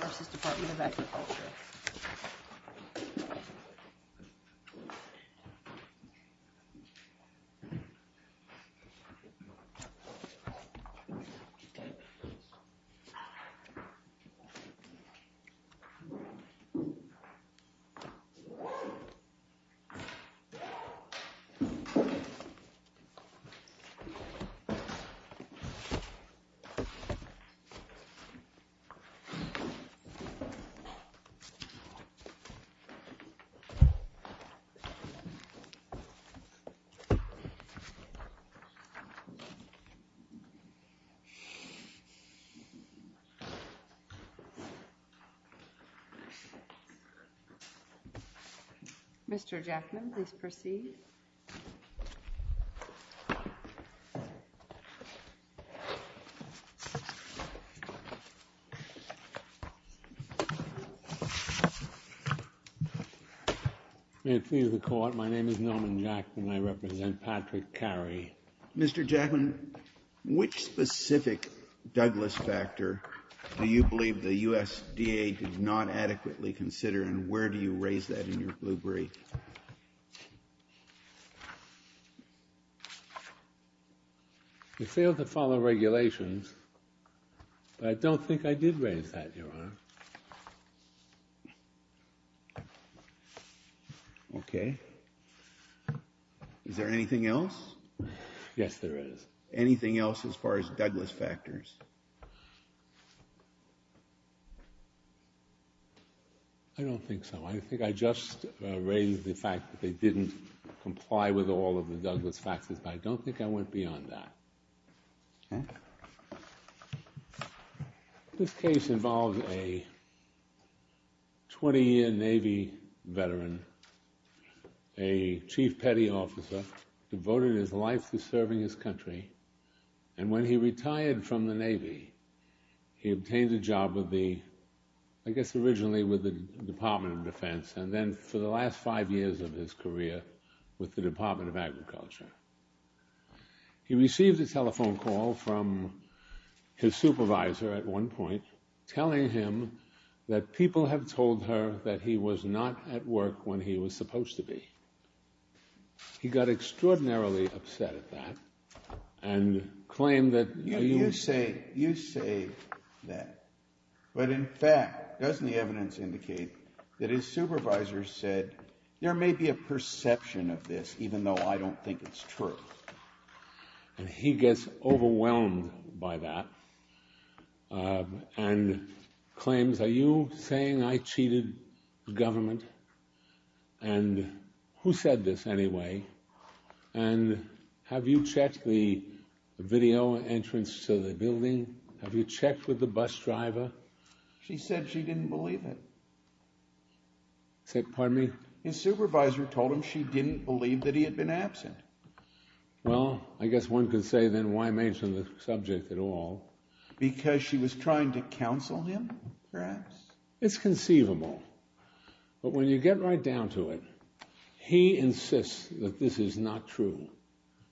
This is the Department of Agriculture Nobody come forward. Mr.Jackson. Please proceed. May it please the court. My name is Norman Jackson. I represent Patrick Carey. Mr.Jackson, which specific Douglas factor do you believe the USDA did not adequately consider and where do you raise that in your blue brief? They failed to follow regulations. I don't think I did raise that, Your Honor. Okay. Is there anything else? Yes, there is. Anything else as far as Douglas factors? I don't think so. I think I just raised the fact that they didn't comply with all of the Douglas factors, but I don't think I went beyond that. This case involves a 20-year Navy veteran, a Chief Petty Officer, devoted his life to serving his country. And when he retired from the Navy, he obtained a job with the, I guess, originally with the Department of Defense and then for the last five years of his career with the Department of Agriculture. He received a telephone call from his supervisor at one point telling him that people have told her that he was not at work when he was supposed to be. He got extraordinarily upset at that and claimed that... And he gets overwhelmed by that and claims, are you saying I cheated the government? And who said this anyway? And have you checked the video entrance to the building? Have you checked with the bus driver? She said she didn't believe it. Pardon me? His supervisor told him she didn't believe that he had been absent. Well, I guess one could say then why mention the subject at all? Because she was trying to counsel him, perhaps? It's conceivable. But when you get right down to it, he insists that this is not true,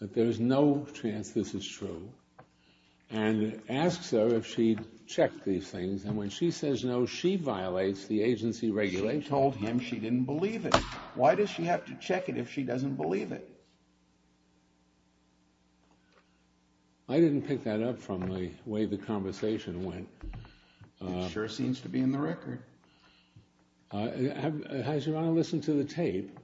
that there's no chance this is true, and asks her if she'd checked these things, and when she says no, she violates the agency regulation. She told him she didn't believe it. Why does she have to check it if she doesn't believe it? I didn't pick that up from the way the conversation went. It sure seems to be in the record. I just want to listen to the tape.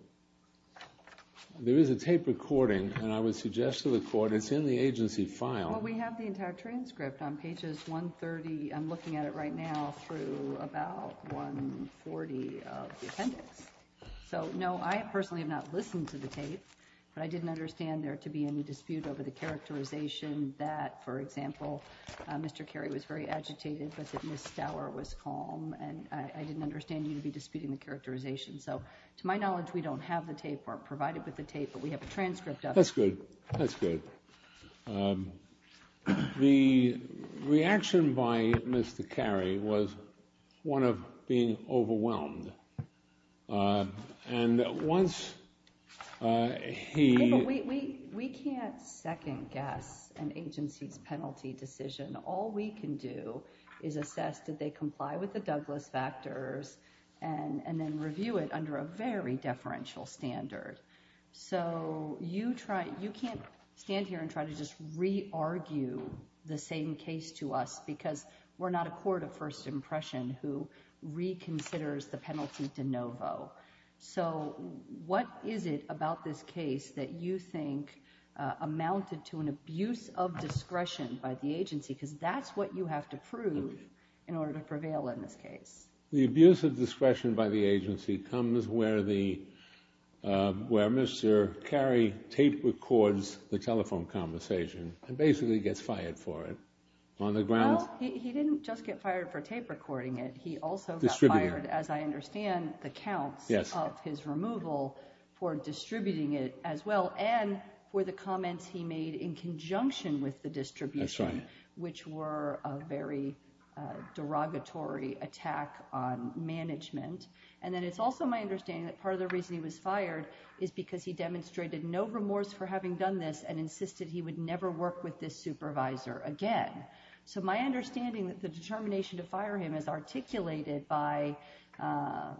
There is a tape recording, and I would suggest to the court it's in the agency file. Well, we have the entire transcript on pages 130. I'm looking at it right now through about 140 of the appendix. So, no, I personally have not listened to the tape, but I didn't understand there to be any dispute over the characterization that, for example, Mr. Carey was very agitated, but that Ms. Stauer was calm, and I didn't understand you to be disputing the characterization. So, to my knowledge, we don't have the tape or provide it with the tape, but we have a transcript of it. That's good. That's good. The reaction by Mr. Carey was one of being overwhelmed, and once he— We can't second-guess an agency's penalty decision. All we can do is assess did they comply with the Douglas factors and then review it under a very deferential standard. So you can't stand here and try to just re-argue the same case to us because we're not a court of first impression who reconsiders the penalty de novo. So what is it about this case that you think amounted to an abuse of discretion by the agency? Because that's what you have to prove in order to prevail in this case. The abuse of discretion by the agency comes where Mr. Carey tape-records the telephone conversation and basically gets fired for it. Well, he didn't just get fired for tape-recording it. He also got fired, as I understand, the counts of his removal for distributing it as well and for the comments he made in conjunction with the distribution, which were a very derogatory attack on management. And then it's also my understanding that part of the reason he was fired is because he demonstrated no remorse for having done this and insisted he would never work with this supervisor again. So my understanding that the determination to fire him as articulated by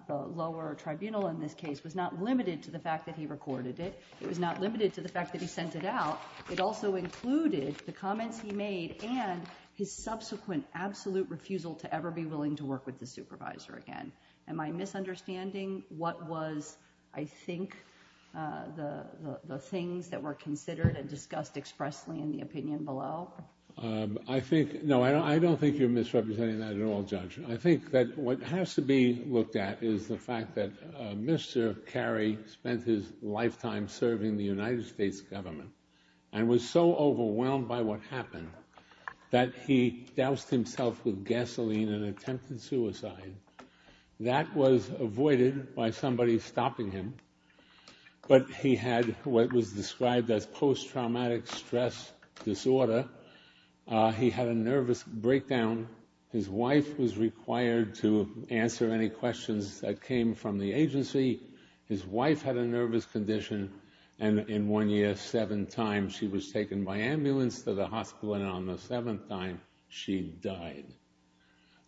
the lower tribunal in this case was not limited to the fact that he recorded it. It was not limited to the fact that he sent it out. It also included the comments he made and his subsequent absolute refusal to ever be willing to work with the supervisor again. Am I misunderstanding what was, I think, the things that were considered and discussed expressly in the opinion below? No, I don't think you're misrepresenting that at all, Judge. I think that what has to be looked at is the fact that Mr. Carey spent his lifetime serving the United States government and was so overwhelmed by what happened that he doused himself with gasoline and attempted suicide. That was avoided by somebody stopping him, but he had what was described as post-traumatic stress disorder. He had a nervous breakdown. His wife was required to answer any questions that came from the agency. His wife had a nervous condition, and in one year, seven times, she was taken by ambulance to the hospital, and on the seventh time, she died.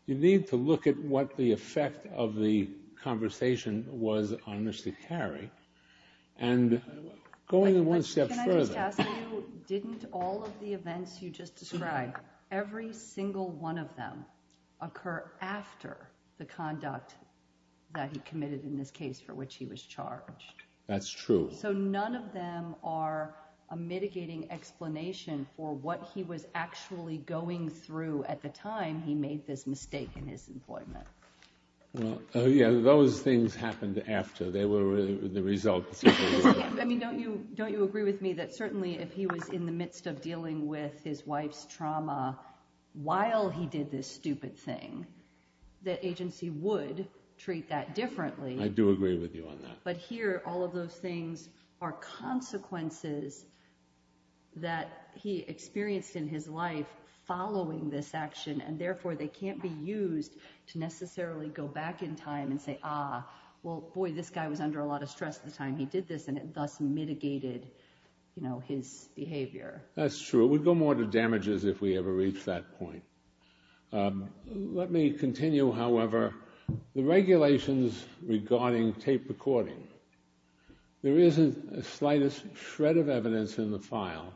You need to look at what the effect of the conversation was on Mr. Carey, and going one step further— Can I just ask you, didn't all of the events you just described, every single one of them occur after the conduct that he committed in this case for which he was charged? That's true. So none of them are a mitigating explanation for what he was actually going through at the time he made this mistake in his employment. Well, yeah, those things happened after. They were the result. I mean, don't you agree with me that certainly if he was in the midst of dealing with his wife's trauma while he did this stupid thing, the agency would treat that differently. I do agree with you on that. But here, all of those things are consequences that he experienced in his life following this action, and therefore, they can't be used to necessarily go back in time and say, ah, well, boy, this guy was under a lot of stress at the time he did this, and it thus mitigated his behavior. That's true. We'd go more to damages if we ever reached that point. Let me continue, however. The regulations regarding tape recording. There isn't a slightest shred of evidence in the file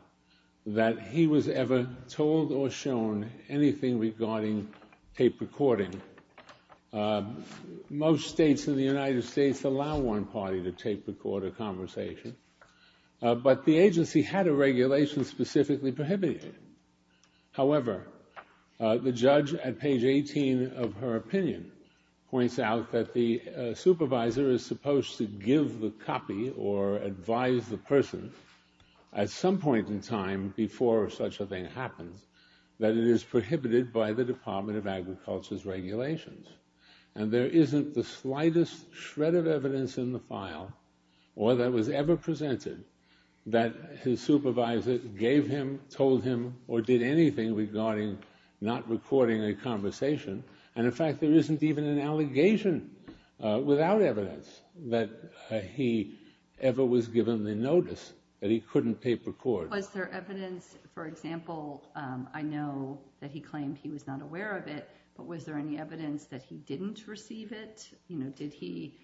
that he was ever told or shown anything regarding tape recording. Most states in the United States allow one party to tape record a conversation, but the agency had a regulation specifically prohibiting it. However, the judge at page 18 of her opinion points out that the supervisor is supposed to give the copy or advise the person at some point in time before such a thing happens that it is prohibited by the Department of Agriculture's regulations. And there isn't the slightest shred of evidence in the file or that was ever presented that his supervisor gave him, told him, or did anything regarding not recording a conversation. And in fact, there isn't even an allegation without evidence that he ever was given the notice that he couldn't tape record. Was there evidence, for example, I know that he claimed he was not aware of it, but was there any evidence that he didn't receive it? Did he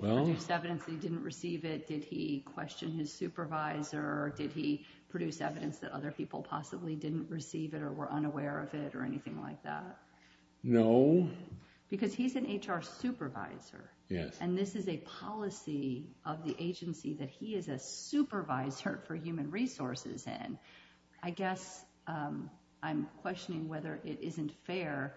produce evidence that he didn't receive it? Did he question his supervisor? Did he produce evidence that other people possibly didn't receive it or were unaware of it or anything like that? No. Because he's an HR supervisor. Yes. And this is a policy of the agency that he is a supervisor for human resources in. I guess I'm questioning whether it isn't fair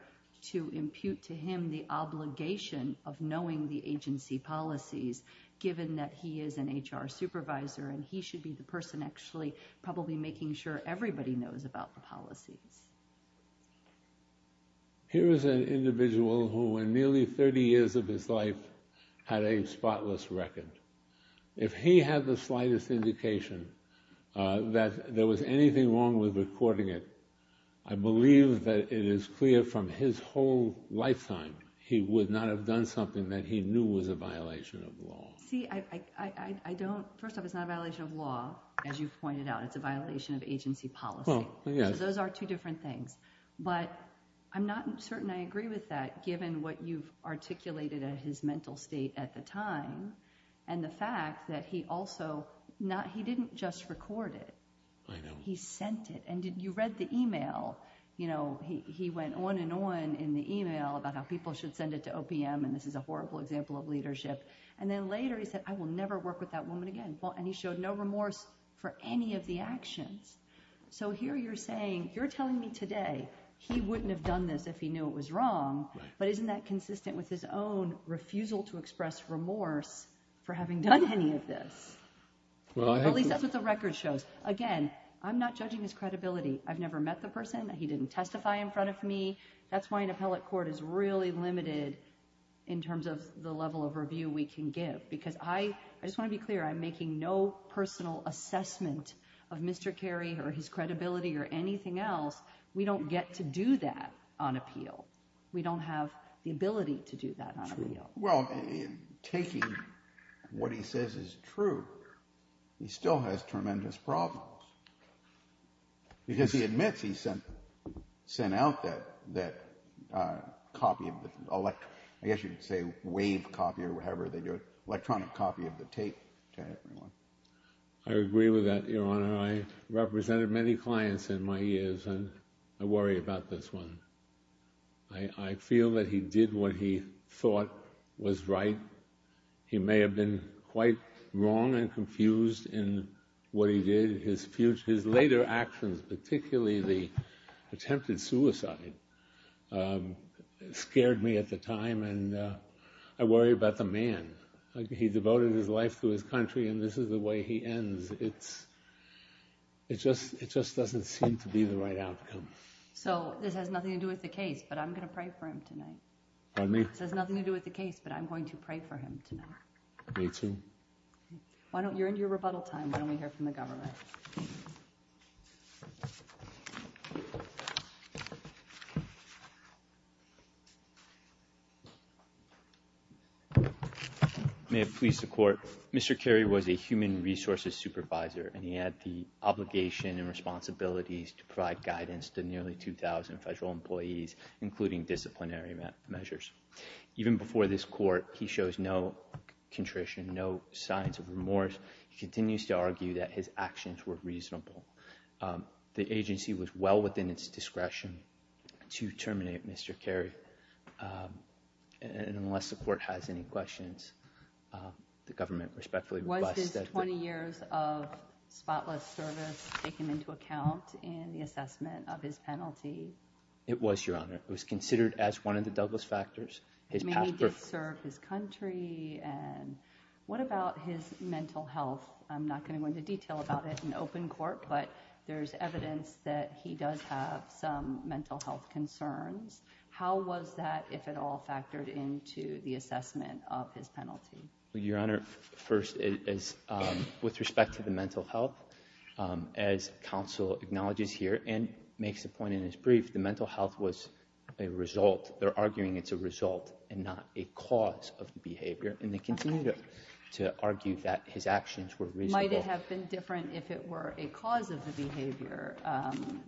to impute to him the obligation of knowing the agency policies, given that he is an HR supervisor and he should be the person actually probably making sure everybody knows about the policies. Here is an individual who in nearly 30 years of his life had a spotless record. If he had the slightest indication that there was anything wrong with recording it, I believe that it is clear from his whole lifetime he would not have done something that he knew was a violation of law. First off, it's not a violation of law, as you've pointed out. It's a violation of agency policy. So those are two different things. But I'm not certain I agree with that, given what you've articulated in his mental state at the time and the fact that he didn't just record it. He sent it. And you read the email. He went on and on in the email about how people should send it to OPM, and this is a horrible example of leadership. And then later he said, I will never work with that woman again. And he showed no remorse for any of the actions. So here you're saying, you're telling me today he wouldn't have done this if he knew it was wrong, but isn't that consistent with his own refusal to express remorse for having done any of this? At least that's what the record shows. Again, I'm not judging his credibility. I've never met the person. He didn't testify in front of me. That's why an appellate court is really limited in terms of the level of review we can give, because I just want to be clear, I'm making no personal assessment of Mr. Kerry or his credibility or anything else. We don't get to do that on appeal. We don't have the ability to do that on appeal. Well, taking what he says is true, he still has tremendous problems, because he admits he sent out that copy of the electronic copy of the tape to everyone. I agree with that, Your Honor. I represented many clients in my years, and I worry about this one. I feel that he did what he thought was right. He may have been quite wrong and confused in what he did. His later actions, particularly the attempted suicide, scared me at the time, and I worry about the man. He devoted his life to his country, and this is the way he ends. It just doesn't seem to be the right outcome. So this has nothing to do with the case, but I'm going to pray for him tonight. Pardon me? This has nothing to do with the case, but I'm going to pray for him tonight. Me too. You're into your rebuttal time. Why don't we hear from the government? May it please the Court. Mr. Kerry was a human resources supervisor, and he had the obligation and responsibilities to provide guidance to nearly 2,000 federal employees, including disciplinary measures. Even before this Court, he shows no contrition, no signs of remorse. He continues to argue that his actions were reasonable. The agency was well within its discretion to terminate Mr. Kerry, and unless the Court has any questions, the government respectfully requests that the— Was his 20 years of spotless service taken into account in the assessment of his penalty? It was, Your Honor. It was considered as one of the Douglas factors. It may have disturbed his country. What about his mental health? I'm not going to go into detail about it in open court, but there's evidence that he does have some mental health concerns. How was that, if at all, factored into the assessment of his penalty? Your Honor, first, with respect to the mental health, as counsel acknowledges here and makes a point in his brief, the mental health was a result. It's not a cause of behavior, and they continue to argue that his actions were reasonable. Might it have been different if it were a cause of the behavior?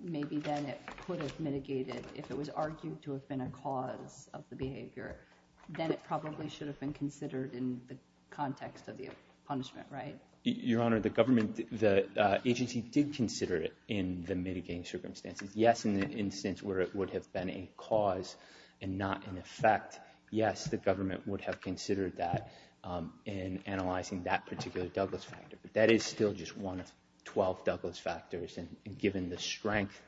Maybe then it could have mitigated. If it was argued to have been a cause of the behavior, then it probably should have been considered in the context of the punishment, right? Your Honor, the government, the agency did consider it in the mitigating circumstances. Yes, in the instance where it would have been a cause and not an effect, yes, the government would have considered that in analyzing that particular Douglas factor. But that is still just one of 12 Douglas factors, and given the strength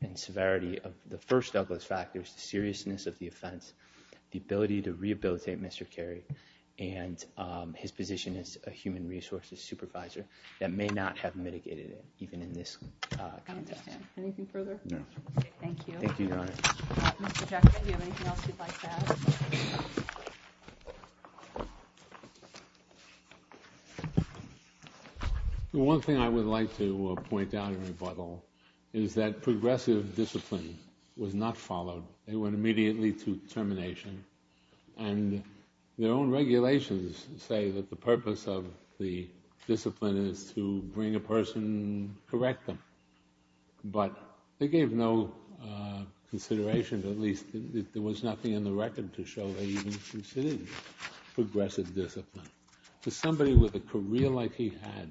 and severity of the first Douglas factors, the seriousness of the offense, the ability to rehabilitate Mr. Carey, and his position as a human resources supervisor, that may not have mitigated it, even in this context. Anything further? No. Thank you. Thank you, Your Honor. Mr. Jackett, do you have anything else you'd like to add? The one thing I would like to point out in rebuttal is that progressive discipline was not followed. They went immediately to termination, and their own regulations say that the purpose of the discipline is to bring a person, correct them. But they gave no consideration, at least there was nothing in the record to show they even considered progressive discipline. To somebody with a career like he had,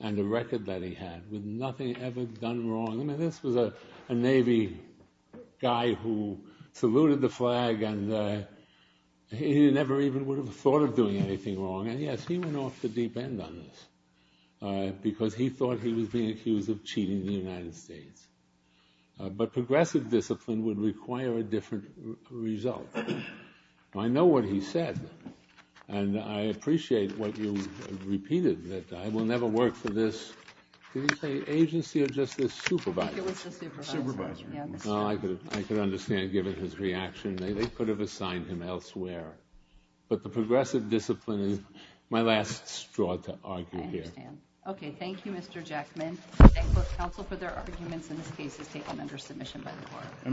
and a record that he had, with nothing ever done wrong. I mean, this was a Navy guy who saluted the flag, and he never even would have thought of doing anything wrong. And, yes, he went off the deep end on this, because he thought he was being accused of cheating the United States. But progressive discipline would require a different result. I know what he said, and I appreciate what you repeated, that I will never work for this agency or just this supervisor. It was the supervisor. Supervisor. I could understand, given his reaction, they could have assigned him elsewhere. But the progressive discipline is my last straw to argue here. I understand. Okay, thank you, Mr. Jackman. I thank both counsel for their arguments, and this case is taken under submission by the court.